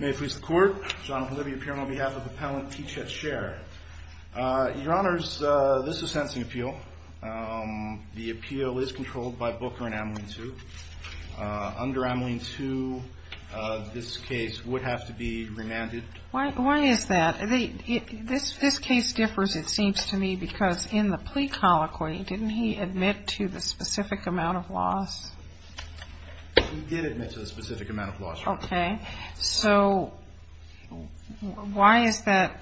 May it please the court, John Holibier here on behalf of the appellant T. Chet Cher. Your honors, this is a sentencing appeal. The appeal is controlled by Booker and Ameline II. Under Ameline II, this case would have to be remanded. Why is that? This case differs, it seems to me, because in the plea colloquy, didn't he admit to the specific amount of loss? He did admit to the specific amount of loss. Okay. So why is that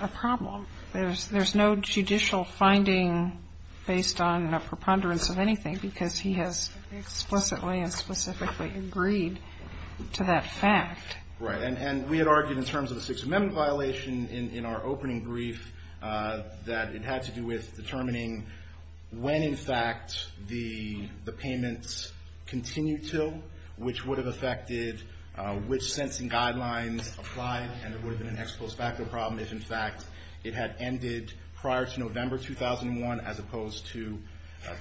a problem? There's no judicial finding based on a preponderance of anything because he has explicitly and specifically agreed to that fact. Right. And we had argued in terms of the Sixth Amendment violation in our opening brief that it had to do with determining when, in fact, the payments continued to, which would have affected which sentencing guidelines applied, and it would have been an ex post facto problem if, in fact, it had ended prior to November 2001 as opposed to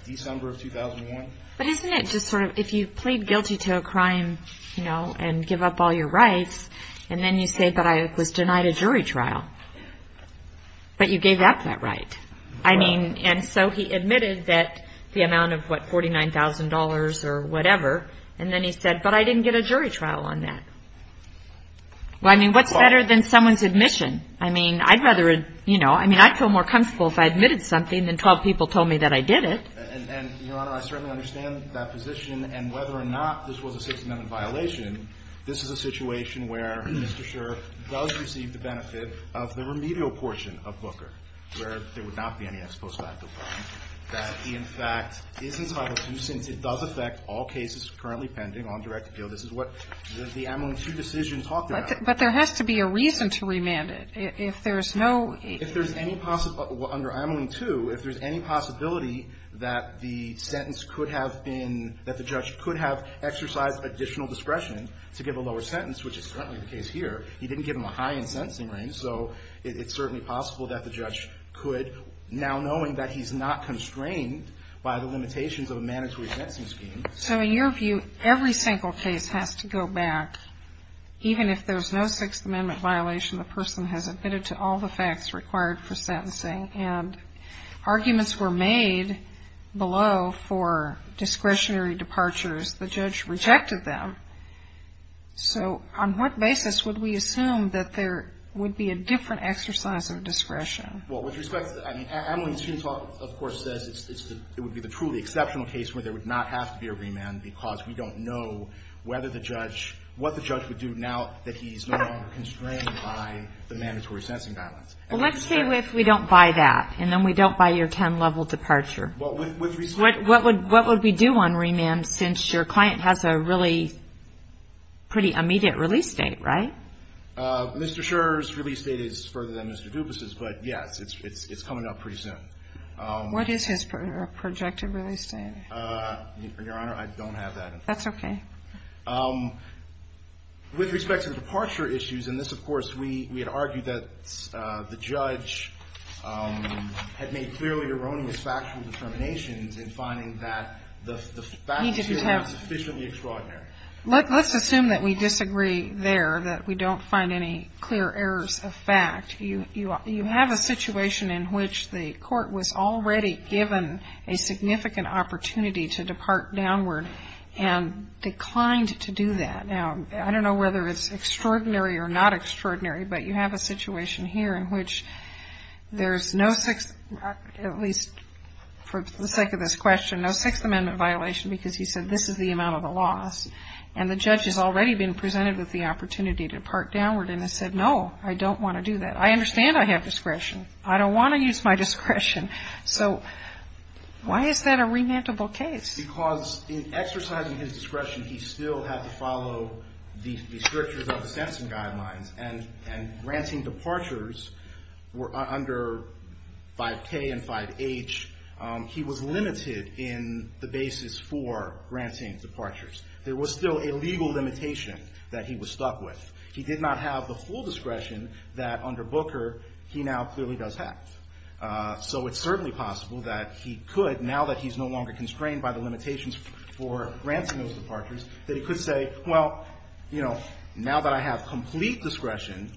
December of 2001. But isn't it just sort of if you plead guilty to a crime, you know, and give up all your rights, and then you say that I was denied a jury trial, but you gave up that right. I mean, and so he admitted that the amount of, what, $49,000 or whatever, and then he said, but I didn't get a jury trial on that. Well, I mean, what's better than someone's admission? I mean, I'd rather, you know, I mean, I'd feel more comfortable if I admitted something than 12 people told me that I did it. And, Your Honor, I certainly understand that position. And whether or not this was a Sixth Amendment violation, this is a situation where Mr. Scher does receive the benefit of the remedial portion of Booker, where there would not be any ex post facto problem, that he, in fact, is entitled to, since it does affect all cases currently pending on direct appeal. This is what the Ameling 2 decision talked about. But there has to be a reason to remand it. If there's no ---- Under Ameling 2, if there's any possibility that the sentence could have been, that the judge could have exercised additional discretion to give a lower sentence, which is currently the case here, he didn't give him a high in sentencing range. So it's certainly possible that the judge could, now knowing that he's not constrained by the limitations of a mandatory sentencing scheme. So in your view, every single case has to go back, even if there's no Sixth Amendment violation, the person has admitted to all the facts required for sentencing, and arguments were made below for discretionary departures. The judge rejected them. So on what basis would we assume that there would be a different exercise of discretion? Well, with respect to the ---- I mean, Ameling 2, of course, says it's the ---- it would be the truly exceptional case where there would not have to be a remand because we don't know whether the judge ---- what the judge would do now that he's no longer constrained by the mandatory sentencing guidelines. Well, let's say we don't buy that, and then we don't buy your 10-level departure. Well, with respect to ---- What would we do on remand since your client has a really pretty immediate release date, right? Mr. Scherr's release date is further than Mr. Dubas's, but yes, it's coming up pretty soon. What is his projected release date? Your Honor, I don't have that information. That's okay. With respect to departure issues, and this, of course, we had argued that the judge had made clearly erroneous factual determinations in finding that the fact here was sufficiently extraordinary. He didn't have ---- Let's assume that we disagree there, that we don't find any clear errors of fact. You have a situation in which the Court was already given a significant opportunity to depart downward and declined to do that. Now, I don't know whether it's extraordinary or not extraordinary, but you have a situation here in which there's no sixth, at least for the sake of this question, no Sixth Amendment violation because he said this is the amount of the loss, and the judge has already been presented with the opportunity to depart downward, and has said, no, I don't want to do that. I understand I have discretion. I don't want to use my discretion. So why is that a remandable case? Because in exercising his discretion, he still had to follow the strictures of the Sampson Guidelines, and granting departures under 5K and 5H, he was limited in the basis for granting departures. There was still a legal limitation that he was stuck with. He did not have the full discretion that under Booker he now clearly does have. So it's certainly possible that he could, now that he's no longer constrained by the limitations for granting those departures, that he could say, well, you know, now that I have complete discretion,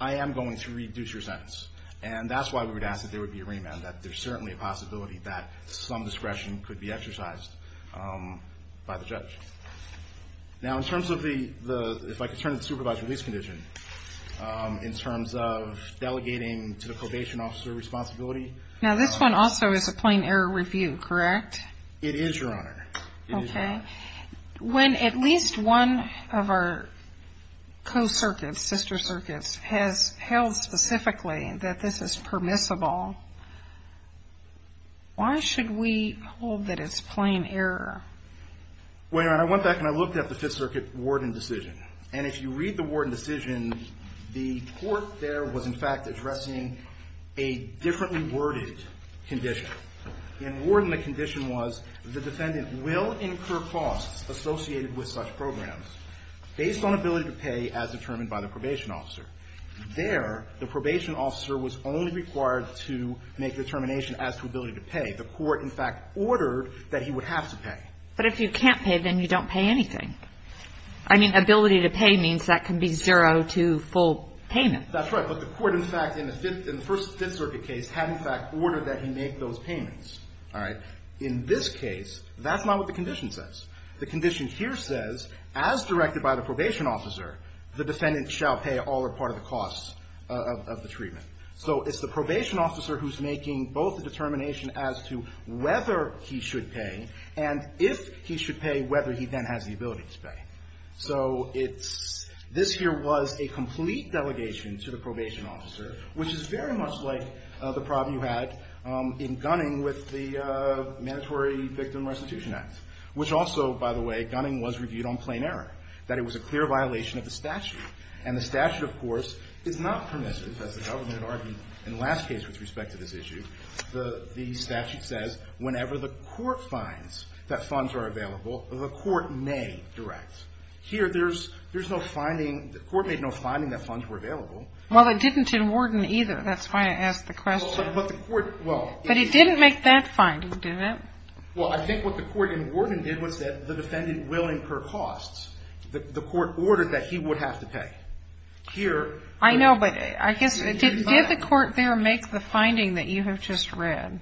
I am going to reduce your sentence. And that's why we would ask that there would be a remand, that there's certainly a possibility that some discretion could be exercised by the judge. Now, in terms of the, if I could turn to the supervised release condition, in terms of delegating to the probation officer responsibility. Now, this one also is a plain error review, correct? It is, Your Honor. Okay. When at least one of our co-circuits, sister circuits, has held specifically that this is permissible, why should we hold that it's plain error? Well, Your Honor, I went back and I looked at the Fifth Circuit warden decision. And if you read the warden decision, the court there was, in fact, addressing a differently worded condition. In warden, the condition was the defendant will incur costs associated with such programs based on ability to pay as determined by the probation officer. There, the probation officer was only required to make determination as to ability to pay. The court, in fact, ordered that he would have to pay. But if you can't pay, then you don't pay anything. I mean, ability to pay means that can be zero to full payment. That's right. But the court, in fact, in the Fifth Circuit case, had, in fact, ordered that he make those payments. All right? In this case, that's not what the condition says. The condition here says, as directed by the probation officer, the defendant shall pay all or part of the costs of the treatment. So it's the probation officer who's making both the determination as to whether he should pay and if he should pay, whether he then has the ability to pay. So it's this here was a complete delegation to the probation officer, which is very much like the problem you had in Gunning with the Mandatory Victim Restitution Act, which also, by the way, Gunning was reviewed on plain error, that it was a clear violation of the statute. And the statute, of course, is not permissive, as the government argued in the last case with respect to this issue. The statute says whenever the court finds that funds are available, the court may direct. Here, there's no finding. The court made no finding that funds were available. Well, it didn't in Worden, either. That's why I asked the question. But the court, well… But he didn't make that finding, did he? Well, I think what the court in Worden did was that the defendant will incur costs. The court ordered that he would have to pay. Here… I know, but I guess did the court there make the finding that you have just read?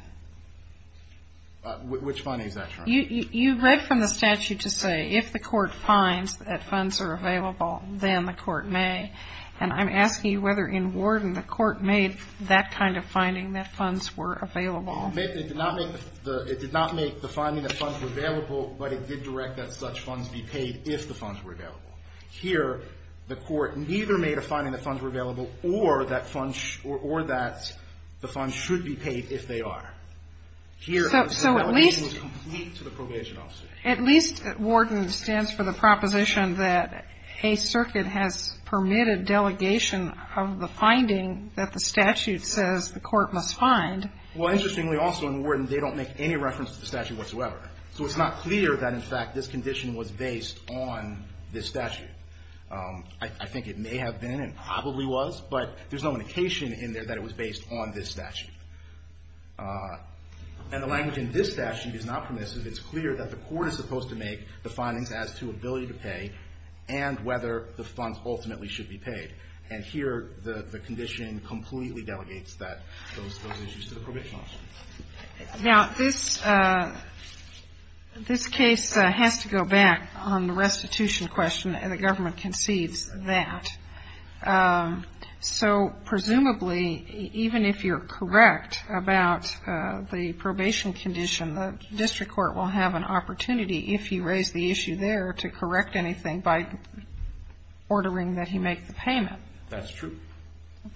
Which finding is that from? You read from the statute to say if the court finds that funds are available, then the court may. And I'm asking you whether in Worden the court made that kind of finding, that funds were available. It did not make the finding that funds were available, but it did direct that such funds be paid if the funds were available. Here, the court neither made a finding that funds were available or that funds or that the funds should be paid if they are. Here… So at least…… the delegation was complete to the probation officer. At least Worden stands for the proposition that a circuit has permitted delegation of the finding that the statute says the court must find. Well, interestingly also in Worden, they don't make any reference to the statute whatsoever. So it's not clear that in fact this condition was based on this statute. I think it may have been and probably was, but there's no indication in there that it was based on this statute. And the language in this statute is not permissive. It's clear that the court is supposed to make the findings as to ability to pay and whether the funds ultimately should be paid. And here, the condition completely delegates those issues to the probation officer. Now, this case has to go back on the restitution question, and the government conceives that. So presumably, even if you're correct about the probation condition, the district court will have an opportunity if you raise the issue there to correct anything by ordering that he make the payment. That's true.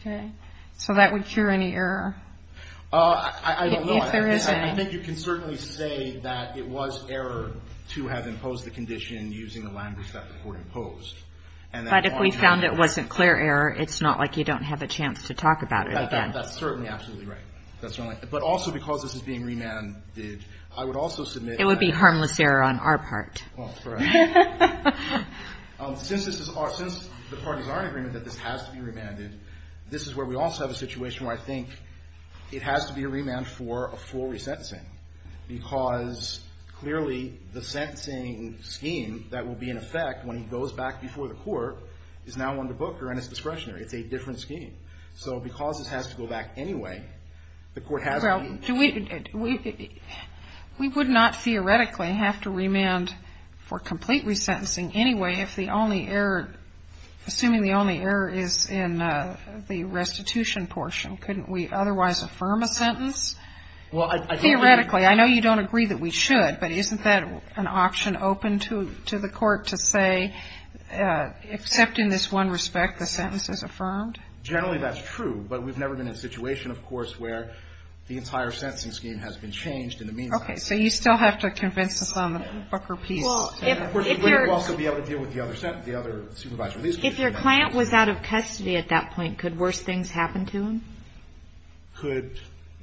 Okay. So that would cure any error? I don't know. If there is any. I think you can certainly say that it was error to have imposed the condition using the language that the court imposed. But if we found it wasn't clear error, it's not like you don't have a chance to talk about it again. That's certainly absolutely right. But also because this is being remanded, I would also submit that. It would be harmless error on our part. Well, correct. Since the parties are in agreement that this has to be remanded, this is where we also have a situation where I think it has to be a remand for a full resentencing, because clearly the sentencing scheme that will be in effect when he goes back before the court is now under Booker and it's discretionary. It's a different scheme. So because this has to go back anyway, the court has to be. Well, we would not theoretically have to remand for complete resentencing anyway if the only error, assuming the only error is in the restitution portion. Couldn't we otherwise affirm a sentence? Well, I think. Theoretically. I know you don't agree that we should, but isn't that an option open to the court to say, except in this one respect, the sentence is affirmed? Generally, that's true. But we've never been in a situation, of course, where the entire sentencing scheme has been changed in the meantime. Okay. So you still have to convince us on the Booker piece. We would also be able to deal with the other supervised release case. If your client was out of custody at that point, could worse things happen to him? Could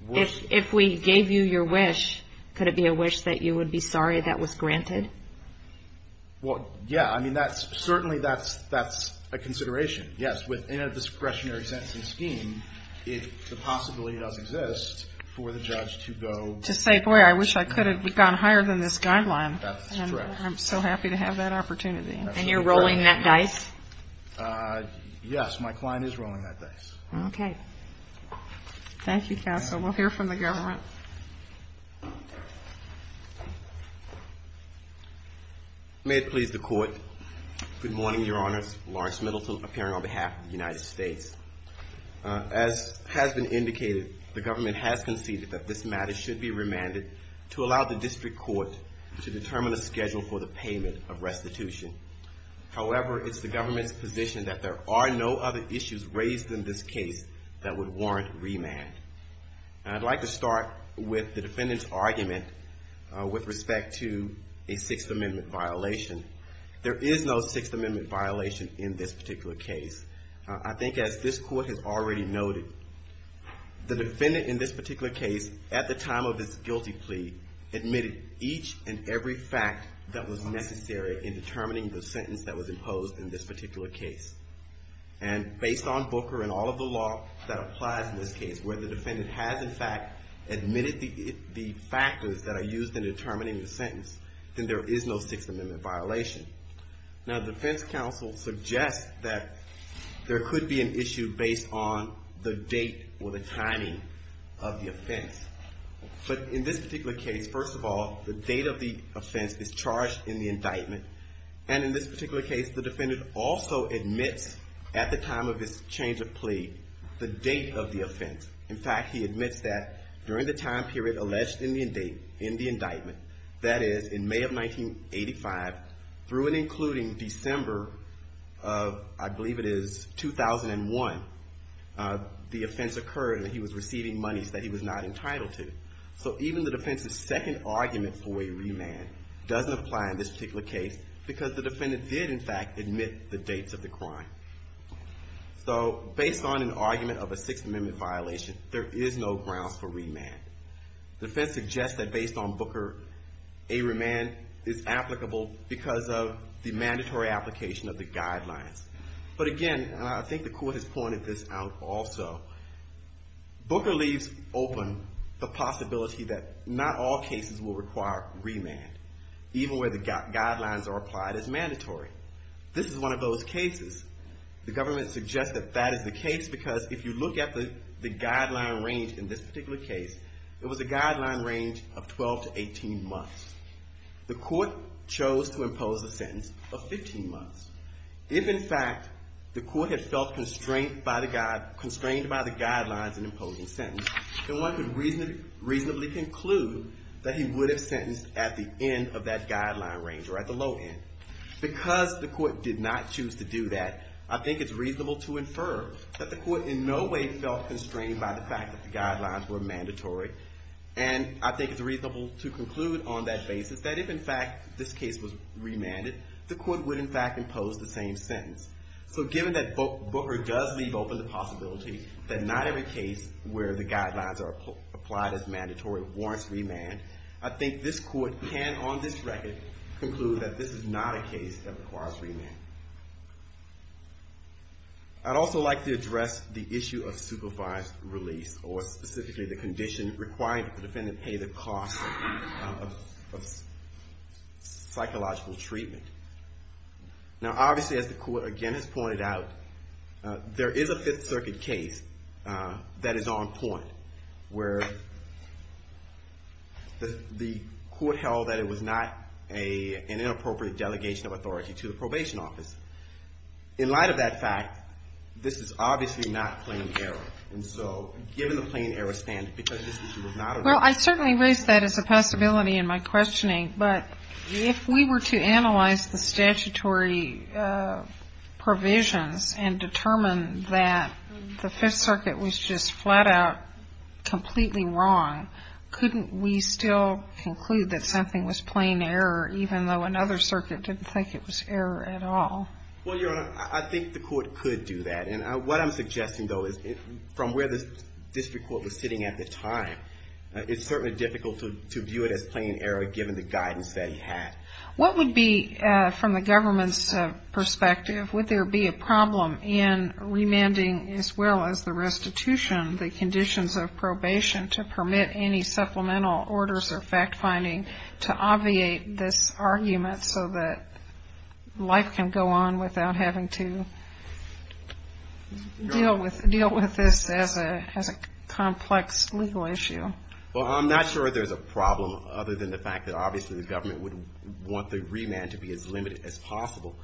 worse. If we gave you your wish, could it be a wish that you would be sorry that was granted? Well, yeah. I mean, certainly that's a consideration. Yes, within a discretionary sentencing scheme, the possibility does exist for the judge to go... To say, boy, I wish I could have gone higher than this guideline. That's true. I'm so happy to have that opportunity. And you're rolling that dice? Yes, my client is rolling that dice. Okay. Thank you, Counsel. We'll hear from the government. May it please the Court. Good morning, Your Honors. Lawrence Middleton, appearing on behalf of the United States. As has been indicated, the government has conceded that this matter should be remanded to allow the district court to determine a schedule for the payment of restitution. However, it's the government's position that there are no other issues raised in this case that would warrant remand. And I'd like to start with the defendant's argument with respect to a Sixth Amendment violation. There is no Sixth Amendment violation in this particular case. I think as this Court has already noted, the defendant in this particular case, at the time of this guilty plea, admitted each and every fact that was necessary in determining the sentence that was imposed in this particular case. And based on Booker and all of the law that applies in this case, where the defendant has, in fact, admitted the factors that are used in determining the sentence, then there is no Sixth Amendment violation. Now, the defense counsel suggests that there could be an issue based on the date or the timing of the offense. But in this particular case, first of all, the date of the offense is charged in the indictment. And in this particular case, the defendant also admits, at the time of his change of plea, the date of the offense. In fact, he admits that during the time period alleged in the indictment, that is, in May of 1985, through and including December of, I believe it is, 2001, the offense occurred and he was receiving monies that he was not entitled to. So even the defense's second argument for a remand doesn't apply in this particular case, because the defendant did, in fact, admit the dates of the crime. So based on an argument of a Sixth Amendment violation, there is no grounds for remand. The defense suggests that based on Booker, a remand is applicable because of the mandatory application of the guidelines. But again, and I think the court has pointed this out also, Booker leaves open the possibility that not all cases will require remand, even where the guidelines are applied as mandatory. This is one of those cases. The government suggests that that is the case, because if you look at the guideline range in this particular case, it was a guideline range of 12 to 18 months. The court chose to impose a sentence of 15 months. If, in fact, the court had felt constrained by the guidelines in imposing the sentence, then one could reasonably conclude that he would have sentenced at the end of that guideline range, or at the low end. Because the court did not choose to do that, I think it's reasonable to infer that the court in no way felt constrained by the fact that the guidelines were mandatory. And I think it's reasonable to conclude on that basis that if, in fact, this case was remanded, the court would, in fact, impose the same sentence. So given that Booker does leave open the possibility that not every case where the guidelines are applied as mandatory warrants remand, I think this court can, on this record, conclude that this is not a case that requires remand. I'd also like to address the issue of supervised release, or specifically the condition requiring that the defendant pay the cost of psychological treatment. Now, obviously, as the court, again, has pointed out, there is a Fifth Circuit case that is on point, where the court held that it was not an inappropriate delegation of authority to the probation office. In light of that fact, this is obviously not plain error. And so given the plain error standard, because this issue was not a... Well, I certainly raised that as a possibility in my questioning, but if we were to analyze the statutory provisions and determine that the Fifth Circuit was just flat-out completely wrong, couldn't we still conclude that something was plain error, even though another circuit didn't think it was error at all? Well, Your Honor, I think the court could do that, and what I'm suggesting, though, is from where the district court was sitting at the time, it's certainly difficult to view it as plain error, given the guidance that he had. What would be, from the government's perspective, would there be a problem in remanding, as well as the restitution, the conditions of probation, to permit any supplemental orders or fact-finding to obviate this argument, so that life can go on without having to deal with this as a complex legal issue? Well, I'm not sure there's a problem, other than the fact that, obviously, the government would want the remand to be as limited as possible.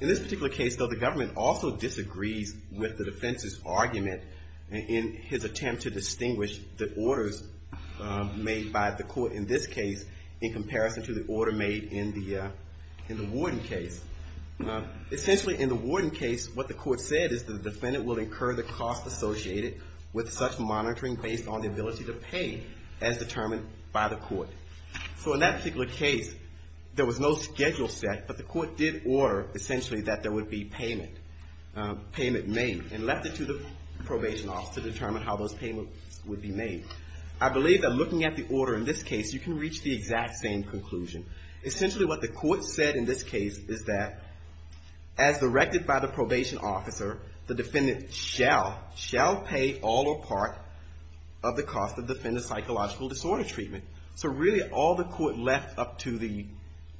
In this particular case, though, the government also disagrees with the defense's argument in his attempt to distinguish the orders made by the court in this case in comparison to the order made in the Warden case. Essentially, in the Warden case, what the court said is the defendant will incur the cost associated with such monitoring based on the ability to pay, as determined by the court. So, in that particular case, there was no schedule set, but the court did order, essentially, that there would be payment made, and left it to the probation office to determine how those payments would be made. I believe that looking at the order in this case, you can reach the exact same conclusion. Essentially, what the court said in this case is that, as directed by the probation officer, the defendant shall pay all or part of the cost of the defendant's psychological disorder treatment. So, really, all the court left up to the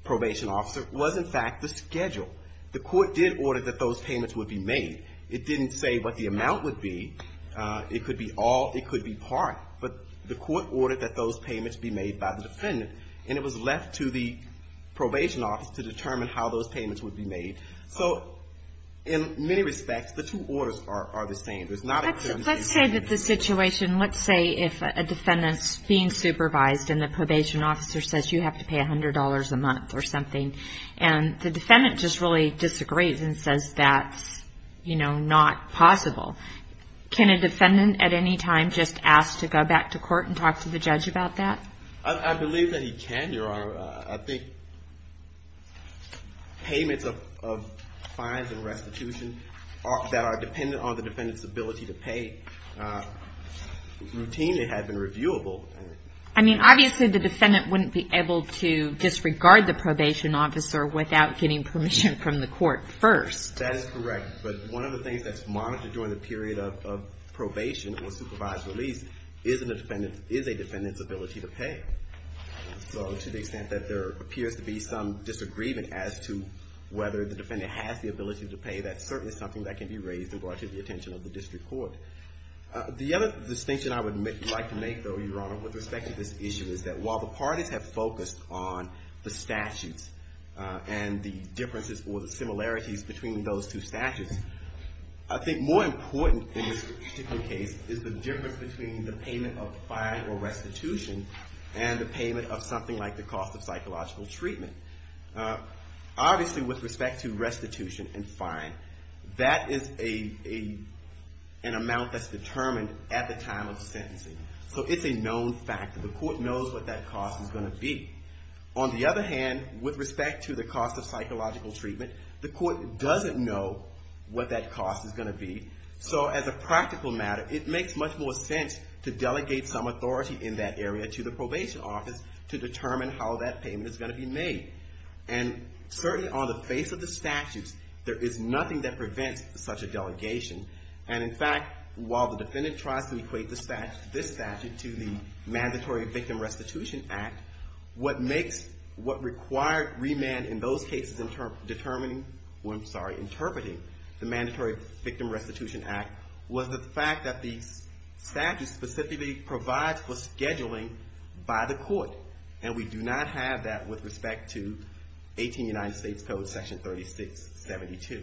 probation officer was, in fact, the schedule. The court did order that those payments would be made. It didn't say what the amount would be. It could be all, it could be part, but the court ordered that those payments be made by the defendant, and it was left to the probation office to determine how those payments would be made. So, in many respects, the two orders are the same. Let's say that the situation, let's say if a defendant's being supervised, and the probation officer says you have to pay $100 a month or something, and the defendant just really disagrees and says that's, you know, not possible. Can a defendant, at any time, just ask to go back to court and talk to the judge about that? I believe that he can, Your Honor. I think payments of fines and restitution that are dependent on the defendant's ability to pay routinely have been reviewable. I mean, obviously the defendant wouldn't be able to disregard the probation officer without getting permission from the court first. That is correct, but one of the things that's monitored during the period of probation or supervised release is a defendant's ability to pay. So, to the extent that there appears to be some disagreement as to whether the defendant has the ability to pay, that's certainly something that can be raised and brought to the attention of the district court. The other distinction I would like to make, though, Your Honor, with respect to this issue is that while the parties have focused on the statutes and the differences or the similarities between those two statutes, I think more important in this particular case is the difference between the payment of fine or restitution and the payment of restitution. And the payment of something like the cost of psychological treatment. Obviously, with respect to restitution and fine, that is an amount that's determined at the time of sentencing. So, it's a known fact that the court knows what that cost is going to be. On the other hand, with respect to the cost of psychological treatment, the court doesn't know what that cost is going to be. So, as a practical matter, it makes much more sense to delegate some authority in that area to the probation office to determine how that payment is going to be made. And certainly on the face of the statutes, there is nothing that prevents such a delegation. And, in fact, while the defendant tries to equate this statute to the Mandatory Victim Restitution Act, what makes what required remand in those cases determining, or I'm sorry, interpreting the Mandatory Victim Restitution Act was the fact that the statute specifically provides for scheduling by the court. And we do not have that with respect to 18 United States Code Section 3672.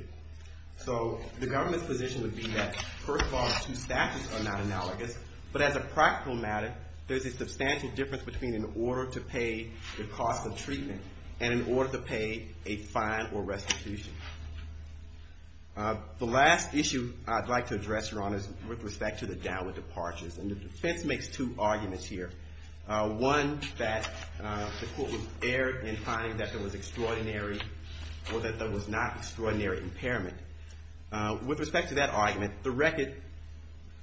So, the government's position would be that, first of all, the two statutes are not analogous. But as a practical matter, there's a substantial difference between an order to pay the cost of treatment and an order to pay a fine or restitution. The last issue I'd like to address, Your Honors, with respect to the downward departures. And the defense makes two arguments here. One, that the court was erred in finding that there was extraordinary, or that there was not extraordinary impairment. With respect to that argument, the record,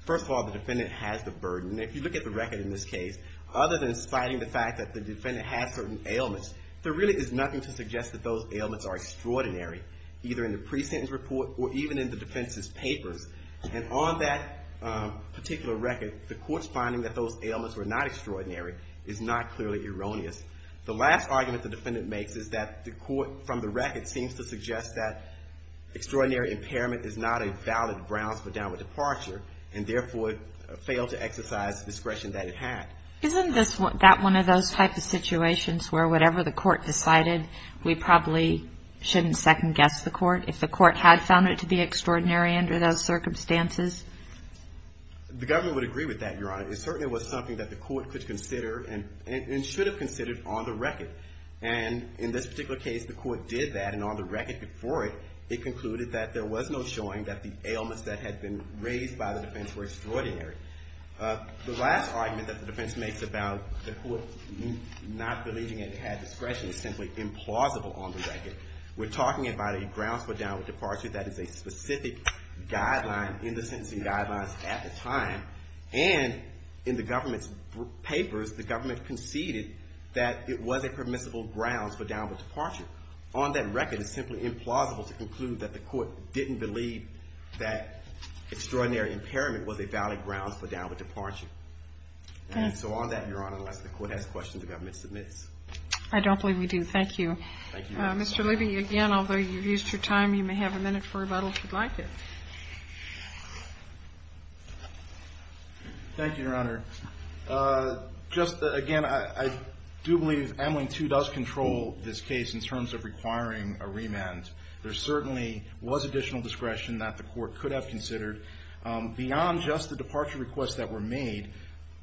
first of all, the defendant has the burden. If you look at the record in this case, other than citing the fact that the defendant has certain ailments, there really is nothing to suggest that those ailments are extraordinary. Either in the pre-sentence report or even in the defense's papers. And on that particular record, the court's finding that those ailments were not extraordinary is not clearly erroneous. The last argument the defendant makes is that the court, from the record, seems to suggest that extraordinary impairment is not a valid grounds for downward departure. And therefore, failed to exercise the discretion that it had. Isn't that one of those types of situations where whatever the court decided, we probably shouldn't second guess the court? If the court had found it to be extraordinary under those circumstances? The government would agree with that, Your Honor. It certainly was something that the court could consider and should have considered on the record. And in this particular case, the court did that, and on the record before it, it concluded that there was no showing that the ailments that had been raised by the defense were extraordinary. The last argument that the defense makes about the court not believing it had discretion is simply implausible on the record. We're talking about a grounds for downward departure that is a specific guideline in the sentencing guidelines at the time. And in the government's papers, the government conceded that it was a permissible grounds for downward departure. On that record, it's simply implausible to conclude that the court didn't believe that extraordinary impairment was a valid grounds for downward departure. And so on that, Your Honor, unless the court has questions, the government submits. I don't believe we do. Thank you. Mr. Levy, again, although you've used your time, you may have a minute for rebuttal if you'd like it. Thank you, Your Honor. Just again, I do believe Ameline II does control this case in terms of requiring a remand. There certainly was additional discretion that the court could have considered. Beyond just the departure requests that were made,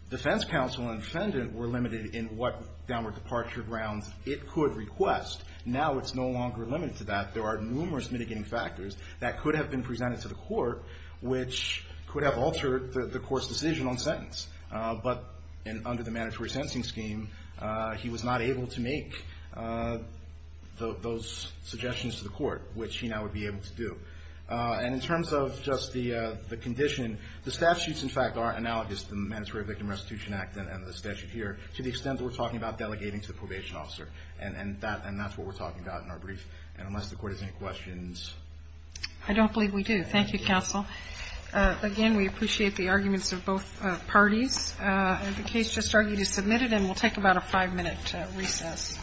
defense counsel and defendant were limited in what downward departure grounds it could request. Now it's no longer limited to that. There are numerous mitigating factors that could have been presented to the court, which could have altered the court's decision on sentence. But under the mandatory sentencing scheme, he was not able to make those suggestions to the court. Which he now would be able to do. And in terms of just the condition, the statutes, in fact, are analogous to the Mandatory Victim Restitution Act and the statute here, to the extent that we're talking about delegating to the probation officer. And that's what we're talking about in our brief. And unless the court has any questions. I don't believe we do. Thank you, counsel. Again, we appreciate the arguments of both parties. The case just argued is submitted and we'll take about a five-minute recess. Thank you.